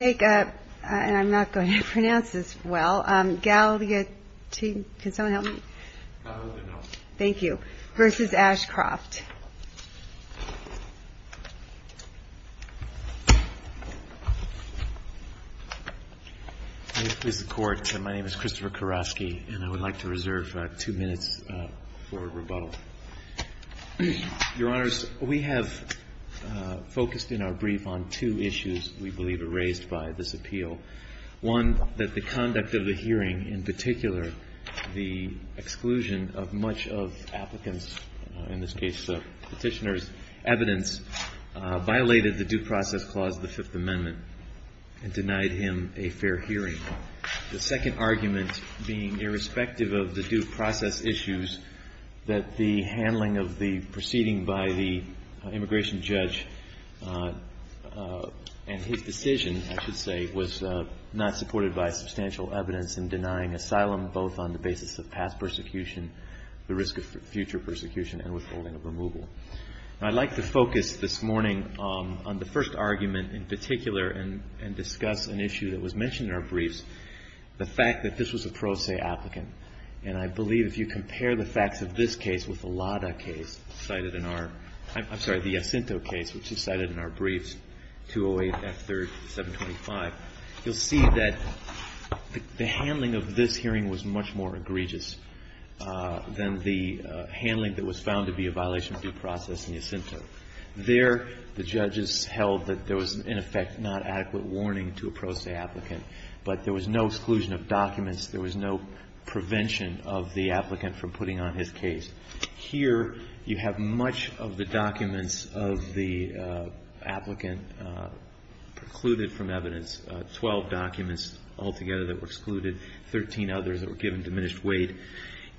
And I'm not going to pronounce this well. Galyautdinov, can someone help me? Galyautdinov. Versus Ashcroft. I'm going to quiz the court. My name is Christopher Karofsky, and I would like to reserve two minutes for rebuttal. Your Honors, we have focused in our brief on two issues. We believe are raised by this appeal. One, that the conduct of the hearing, in particular, the exclusion of much of applicants, in this case the petitioner's evidence, violated the due process clause of the Fifth Amendment and denied him a fair hearing. The second argument being, irrespective of the due process issues, that the handling of the proceeding by the immigration judge and his decision, I should say, was not supported by substantial evidence in denying asylum, both on the basis of past persecution, the risk of future persecution, and withholding of removal. I'd like to focus this morning on the first argument, in particular, and discuss an issue that was mentioned in our briefs, the fact that this was a pro se applicant. And I believe if you compare the facts of this case with the Lada case cited in our, I'm sorry, the Jacinto case, which is cited in our briefs, 208 F3, 725, you'll see that the handling of this hearing was much more egregious than the handling that was found to be a violation of due process in Jacinto. There, the judges held that there was, in effect, not adequate warning to a pro se applicant. There was no prevention of the applicant from putting on his case. Here, you have much of the documents of the applicant precluded from evidence, 12 documents altogether that were excluded, 13 others that were given diminished weight.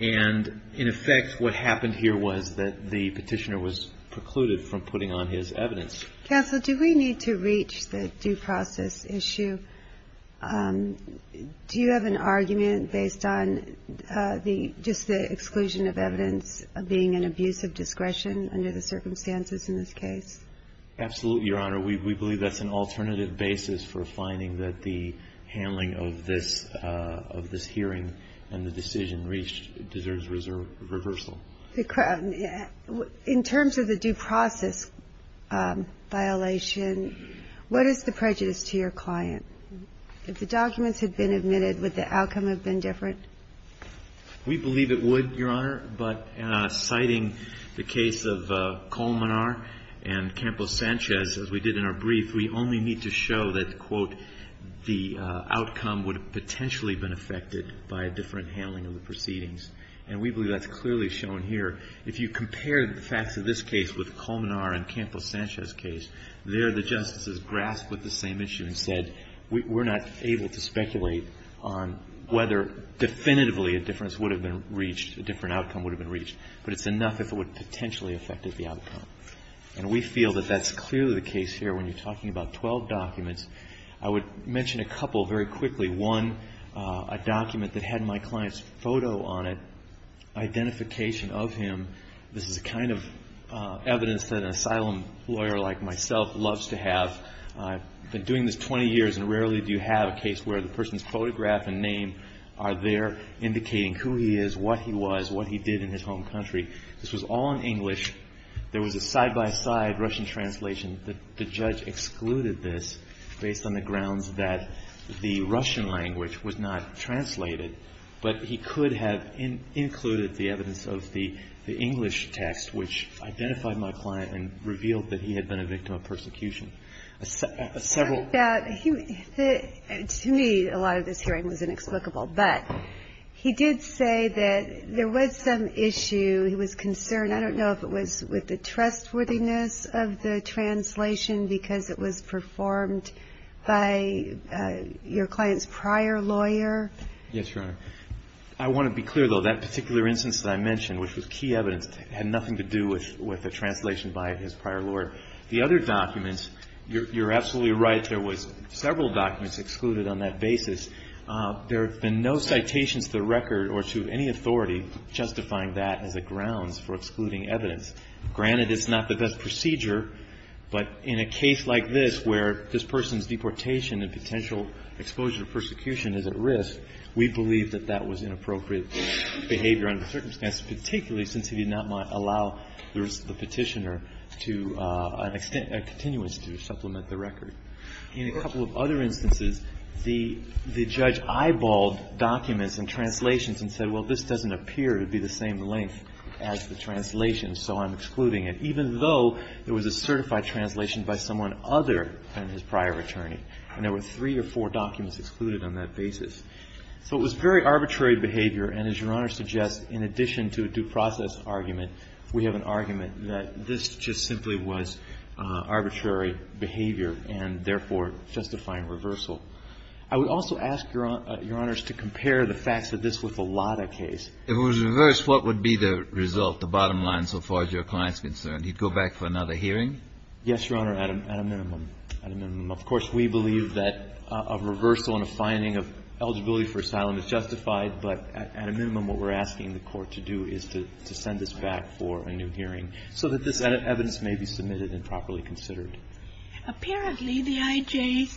And in effect, what happened here was that the petitioner was precluded from putting on his evidence. Counsel, do we need to reach the due process issue? Do you have an argument based on just the exclusion of evidence of being an abuse of discretion under the circumstances in this case? Absolutely, Your Honor. We believe that's an alternative basis for finding that the handling of this hearing and the decision reached deserves reversal. In terms of the due process violation, what is the prejudice to your client? If the documents had been admitted, would the outcome have been different? We believe it would, Your Honor. But citing the case of Colmenar and Campos-Sanchez, as we did in our brief, we only need to show that, quote, the outcome would have potentially been affected by a different handling of the proceedings. And we believe that's clearly shown here. If you compare the facts of this case with Colmenar and Campos-Sanchez case, there the justices grasped with the same issue and said, we're not able to speculate on whether definitively a difference would have been reached, a different outcome would have been reached. But it's enough if it would potentially affect the outcome. And we feel that that's clearly the case here when you're talking about 12 documents. I would mention a couple very quickly. One, a document that had my client's photo on it, identification of him. This is a kind of evidence that an asylum lawyer like myself loves to have. I've been doing this 20 years. And rarely do you have a case where the person's photograph and name are there indicating who he is, what he was, what he did in his home country. This was all in English. There was a side-by-side Russian translation. The judge excluded this based on the grounds that the Russian language was not translated. But he could have included the evidence of the English text, which identified my client and revealed that he had been a victim of persecution. Several. To me, a lot of this hearing was inexplicable. But he did say that there was some issue. He was concerned. I don't know if it was with the trustworthiness of the translation because it was performed by your client's prior lawyer. Yes, Your Honor. I want to be clear, though. That particular instance that I mentioned, which was key evidence, had nothing to do with the translation by his prior lawyer. The other documents, you're absolutely right. There was several documents excluded on that basis. There have been no citations to the record or to any authority justifying that as a grounds for excluding evidence. Granted, it's not the best procedure. But in a case like this, where this person's deportation and potential exposure to persecution is at risk, we believe that that was inappropriate behavior under the circumstances, particularly since he did not allow the petitioner a continuance to supplement the record. In a couple of other instances, the judge eyeballed documents and translations and said, well, this doesn't appear to be the same length as the translation, so I'm excluding it, even though it was a certified translation by someone other than his prior attorney. And there were three or four documents excluded on that basis. So it was very arbitrary behavior. And as Your Honor suggests, in addition to a due process argument, we have an argument that this just simply was arbitrary behavior and therefore justifying reversal. I would also ask Your Honors to compare the facts of this with the Lada case. If it was reversed, what would be the result, the bottom line, so far as your client's concerned? He'd go back for another hearing? Yes, Your Honor, at a minimum. Of course, we believe that a reversal and a finding of eligibility for asylum is justified. But at a minimum, what we're asking the court to do is to send this back for a new hearing so that this evidence may be submitted and properly considered. Apparently, the IJ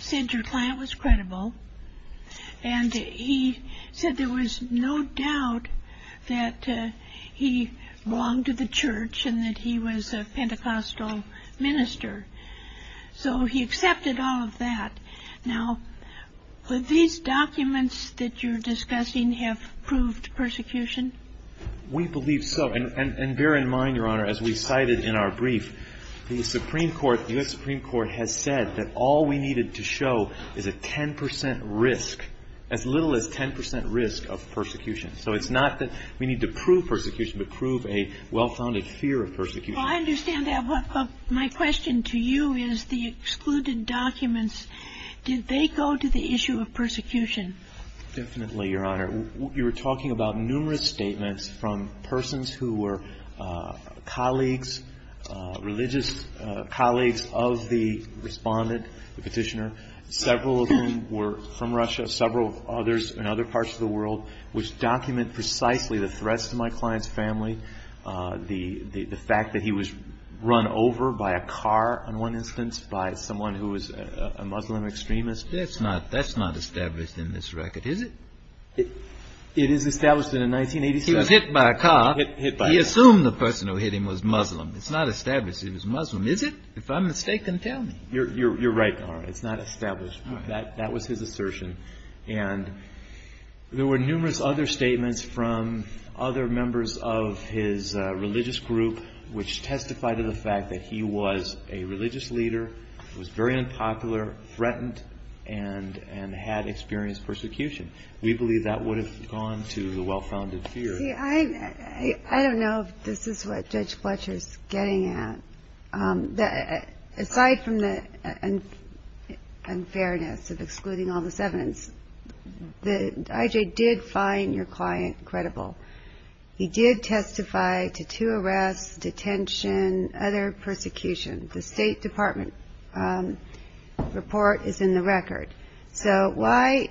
said your client was credible. And he said there was no doubt that he belonged to the church and that he was a Pentecostal minister. So he accepted all of that. Now, would these documents that you're discussing have proved persecution? We believe so. And bear in mind, Your Honor, as we cited in our brief, the Supreme Court, the US Supreme Court, has said that all we needed to show is a 10% risk, as little as 10% risk of persecution. So it's not that we need to prove persecution, but prove a well-founded fear of persecution. Well, I understand that. My question to you is the excluded documents, did they go to the issue of persecution? Definitely, Your Honor. You were talking about numerous statements from persons who were colleagues, religious colleagues of the respondent, the petitioner, several of whom were from Russia, several others in other parts of the world, which document precisely the threats to my client's family, the fact that he was run over by a car, in one instance, by someone who was a Muslim extremist. That's not established in this record, is it? It is established that in 1987. He was hit by a car. He assumed the person who hit him was Muslim. It's not established he was Muslim, is it? If I'm mistaken, tell me. You're right, Your Honor. It's not established. That was his assertion. And there were numerous other statements from other members of his religious group, which testified to the fact that he was a religious leader, was very unpopular, threatened, and had experienced persecution. We believe that would have gone to the well-founded fear. I don't know if this is what Judge Fletcher's getting at. Aside from the unfairness of excluding all this evidence, the IJ did find your client credible. He did testify to two arrests, detention, other persecution. The State Department report is in the record. So why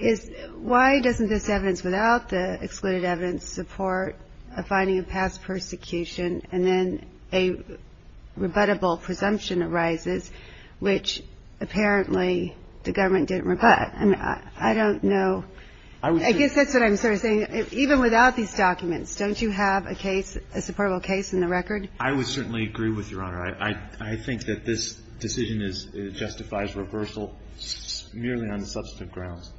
doesn't this evidence, without the excluded evidence, support a finding of past persecution, and then a rebuttable presumption arises, which apparently the government didn't rebut? I don't know. I guess that's what I'm sort of saying. Even without these documents, don't you have a case, a supportable case, in the record? I would certainly agree with you, Your Honor. I think that this decision justifies reversal merely on the substantive grounds.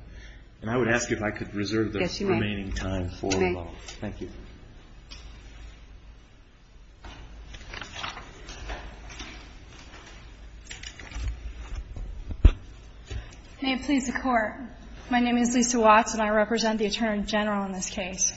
And I would ask if I could reserve the remaining time for rebuttal. Thank you. May it please the Court. My name is Lisa Watts, and I represent the Attorney General in this case.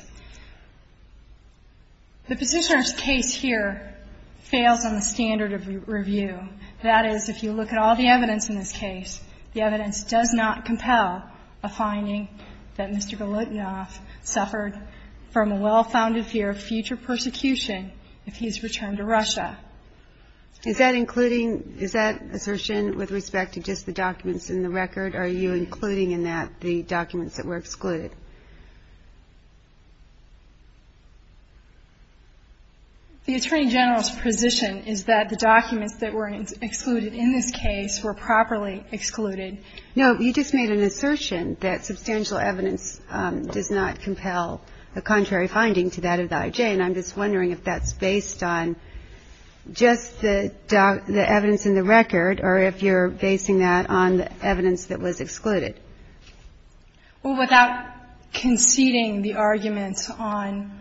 The positioner's case here fails on the standard of review. That is, if you look at all the evidence in this case, the evidence does not compel a finding that Mr. Golotnyov suffered from a well-founded fear of future persecution if he is returned to Russia. Is that including, is that assertion with respect to just the documents in the record? Are you including in that the documents that were excluded? The Attorney General's position is that the documents that were excluded in this case were properly excluded. No, you just made an assertion that substantial evidence does not compel a contrary finding to that of the IJ, and I'm just wondering if that's based on just the evidence in the record, or if you're basing that on the evidence that was excluded. Well, without conceding the arguments on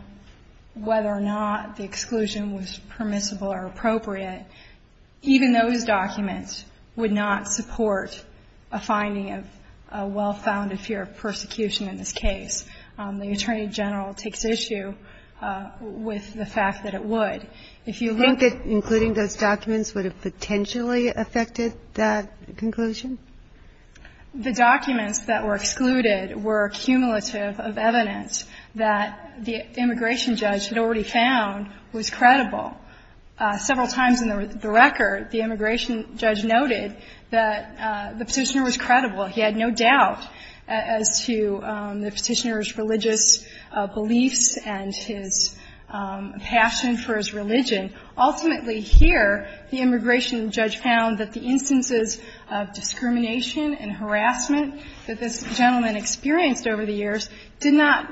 whether or not the exclusion was permissible or appropriate, even those documents would not support a finding of a well-founded fear of persecution in this case. The Attorney General takes issue with the fact that it would. If you look at the evidence in the record, would you say that including those documents would have potentially affected that conclusion? The documents that were excluded were cumulative of evidence that the immigration judge had already found was credible. Several times in the record, the immigration judge noted that the Petitioner was credible. He had no doubt as to the Petitioner's religious beliefs and his passion for his religion. Ultimately, here, the immigration judge found that the instances of discrimination and harassment that this gentleman experienced over the years did not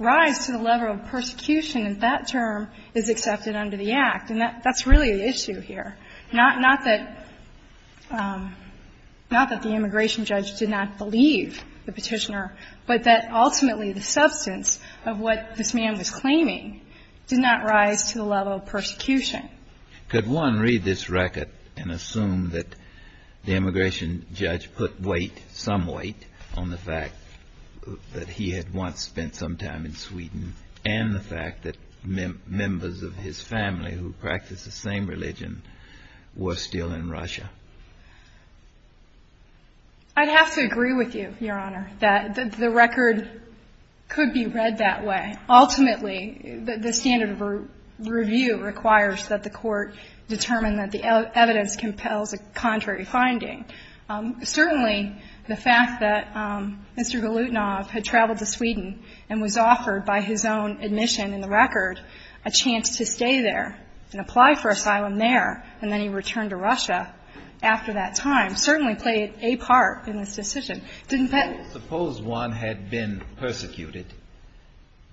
rise to the level of persecution if that term is accepted under the Act. And that's really the issue here. Not that the immigration judge did not believe the Petitioner, but that ultimately the substance of what this man was claiming did not rise to the level of persecution. Could one read this record and assume that the immigration judge put weight, some weight, on the fact that he had once spent some time in Sweden and the fact that members of his family who practiced the same religion were still in Russia? I'd have to agree with you, Your Honor, that the record could be read that way. Ultimately, the standard of review requires that the court determine that the evidence compels a contrary finding. Certainly, the fact that Mr. Golutnov had traveled to Sweden and was offered by his own admission in the record a chance to stay there and apply for asylum there, and then he returned to Russia after that time certainly played a part in this decision. Suppose one had been persecuted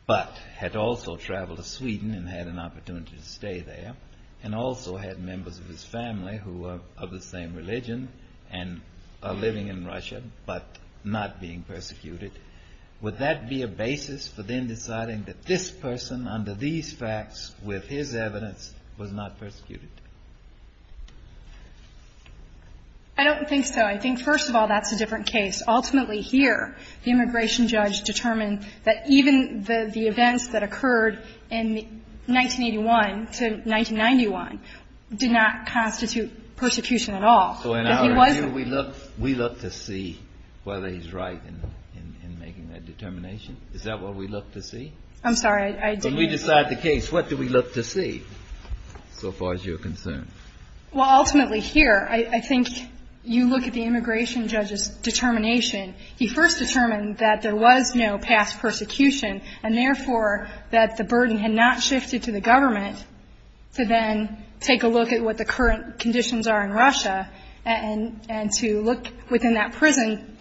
but had also traveled to Sweden and had an opportunity to stay there and also had members of his family who were of the same religion and are living in Russia but not being persecuted. Would that be a basis for then deciding that this person, under these facts, with his evidence, was not persecuted? I don't think so. I think, first of all, that's a different case. Ultimately, here, the immigration judge determined that even the events that occurred in 1981 to 1991 did not constitute persecution at all. So in our review, we look to see whether he's right in making that determination? Is that what we look to see? I'm sorry, I didn't mean to. When we decide the case, what do we look to see, so far as you're concerned? Well, ultimately, here, I think you look at the immigration judge's determination. He first determined that there was no past persecution and, therefore, that the burden had not shifted to the government to then take a look at what the current conditions are in Russia and to look within that prison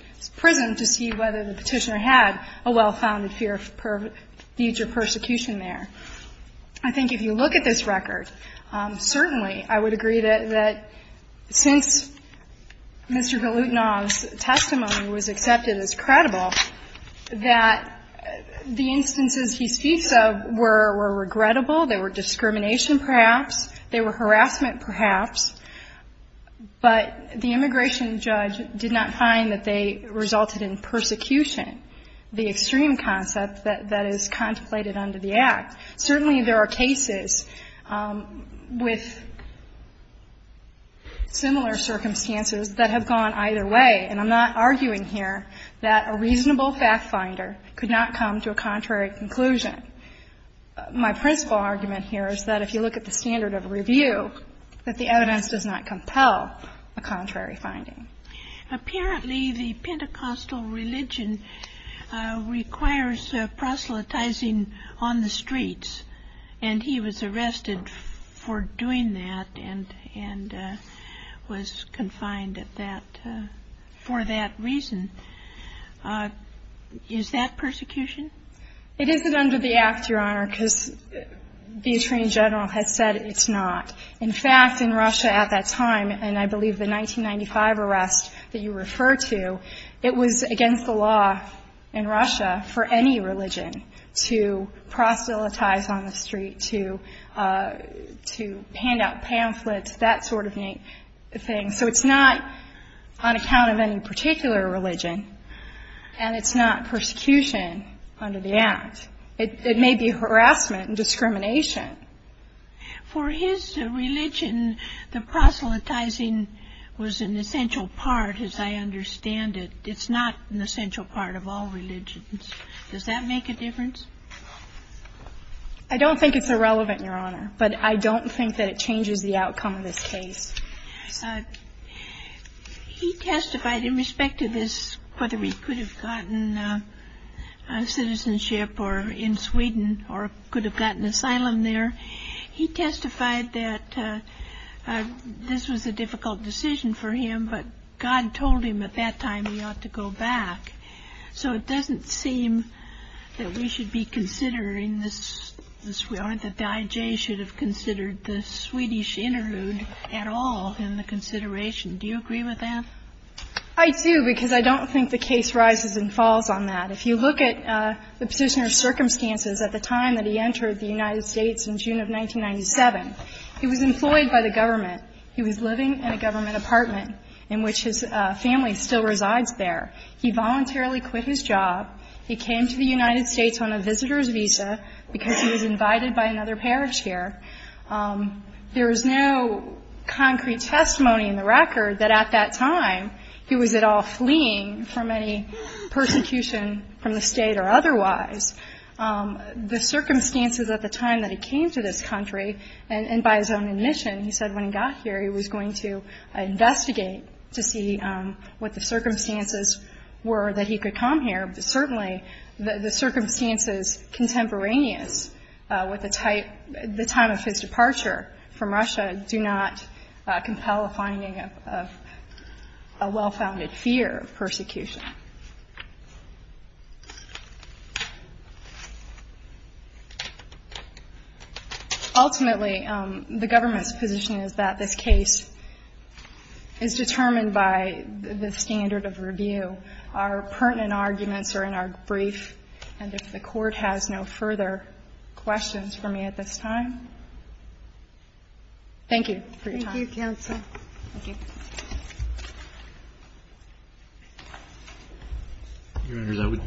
to see whether the petitioner had a well-founded fear of future persecution there. I think if you look at this record, certainly I would agree that since Mr. Golutnov's testimony was accepted as credible, that the instances he speaks of were regrettable. They were discrimination, perhaps. They were harassment, perhaps. But the immigration judge did not find that they resulted in persecution, the extreme concept that is contemplated under the Act. Certainly, there are cases with similar circumstances that have gone either way. And I'm not arguing here that a reasonable fact-finder could not come to a contrary conclusion. My principal argument here is that if you look at the standard of review, that the evidence does not compel a contrary finding. Apparently, the Pentecostal religion requires proselytizing on the streets. And he was arrested for doing that and was confined for that reason. Is that persecution? It isn't under the Act, Your Honor, because the attorney general has said it's not. In fact, in Russia at that time, and I that you refer to, it was against the law in Russia for any religion to proselytize on the street, to hand out pamphlets, that sort of thing. So it's not on account of any particular religion, and it's not persecution under the Act. It may be harassment and discrimination. For his religion, the proselytizing was an essential part, as I understand it. It's not an essential part of all religions. Does that make a difference? I don't think it's irrelevant, Your Honor. But I don't think that it changes the outcome of this case. He testified in respect to this, whether we could have gotten citizenship in Sweden or could have gotten asylum there. He testified that this was a difficult decision for him, but God told him at that time we ought to go back. So it doesn't seem that we should be considering this, that the IJ should have considered the Swedish interlude at all in the consideration. Do you agree with that? I do, because I don't think the case rises and falls on that. If you look at the position of circumstances at the time that he entered the United States in June of 1997, he was employed by the government. He was living in a government apartment in which his family still resides there. He voluntarily quit his job. He came to the United States on a visitor's visa because he was invited by another parish here. There is no concrete testimony in the record that at that time he was at all fleeing from any persecution from the state or otherwise. The circumstances at the time that he came to this country, and by his own admission, he said when he got here, he was going to investigate to see what the circumstances were that he could come here. But certainly, the circumstances contemporaneous with the time of his departure from Russia do not compel a finding of a well-founded fear of persecution. Ultimately, the government's position is that this case is determined by the standard of review. Our pertinent arguments are in our brief. And if the Court has no further questions for me at this time, thank you for your time. Thank you, counsel. Thank you. Your Honor,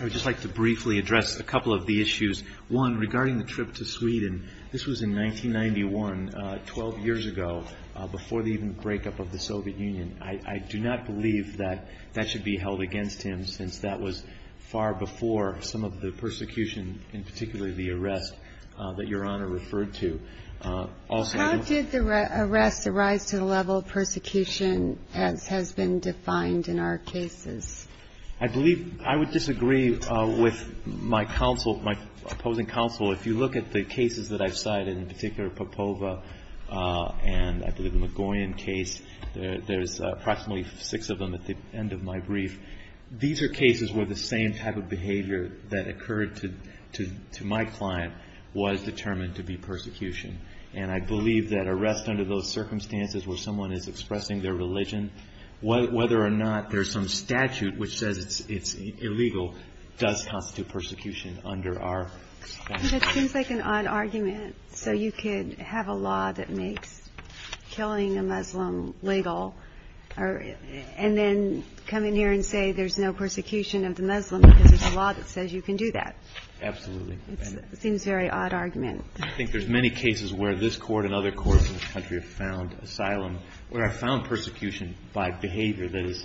I would just like to briefly address a couple of the issues. One, regarding the trip to Sweden, this was in 1991, 12 years ago, before the even breakup of the Soviet Union. I do not believe that that should be held against him, since that was far before some of the persecution, and particularly the arrest, that Your Honor referred to. How did the arrest arise to the level of persecution as has been defined in our cases? I believe I would disagree with my opposing counsel. If you look at the cases that I've cited, in particular Popova and, I believe, the Magoyan case, there's approximately six of them at the end of my brief. These are cases where the same type of behavior that occurred to my client was determined to be persecution. And I believe that arrest under those circumstances where someone is expressing their religion, whether or not there's some statute which says it's illegal, does constitute persecution under our statute. But it seems like an odd argument. So you could have a law that makes killing a Muslim legal, and then come in here and say there's no persecution of the Muslim, because there's a law that says you can do that. Absolutely. Seems very odd argument. I think there's many cases where this court and other courts in this country have found asylum, where I found persecution by behavior that is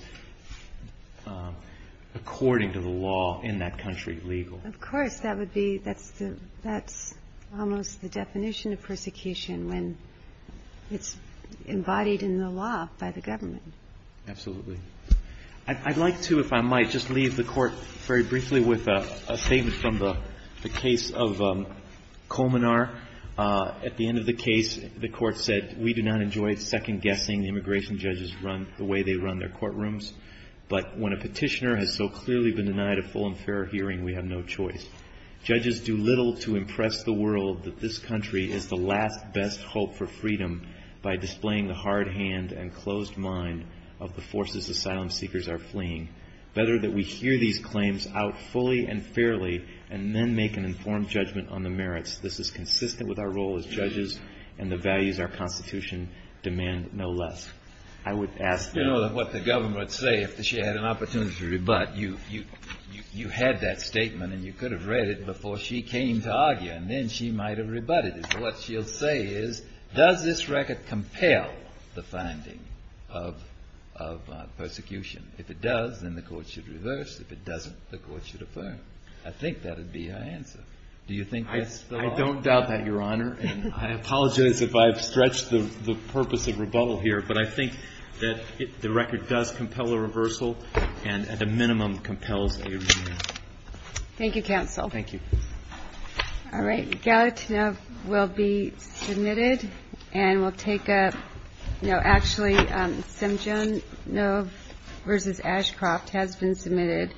according to the law in that country legal. Of course, that's almost the definition of persecution when it's embodied in the law by the government. Absolutely. I'd like to, if I might, just leave the court very briefly with a statement from the case of Komenar. At the end of the case, the court said, we do not enjoy second guessing the immigration judges run the way they run their courtrooms. But when a petitioner has so clearly been denied a full and fair hearing, we have no choice. Judges do little to impress the world that this country is the last best hope for freedom by displaying the hard hand and closed mind of the forces asylum seekers are fleeing. Better that we hear these claims out fully and fairly, and then make an informed judgment on the merits. This is consistent with our role as judges and the values our Constitution demand no less. I would ask that. What the government would say if she had an opportunity to rebut, you had that statement and you could have read it before she came to argue, and then she might have rebutted it. What she'll say is, does this record compel the finding of persecution? If it does, then the court should reverse. If it doesn't, the court should affirm. I think that would be her answer. Do you think that's the law? I don't doubt that, Your Honor. I apologize if I've stretched the purpose of rebuttal here, but I think that the record does compel a reversal, and at a minimum compels a rebuttal. Thank you, counsel. Thank you. All right, Galatinov will be submitted. And we'll take a, no, actually, Stemjanov versus Ashcroft has been submitted.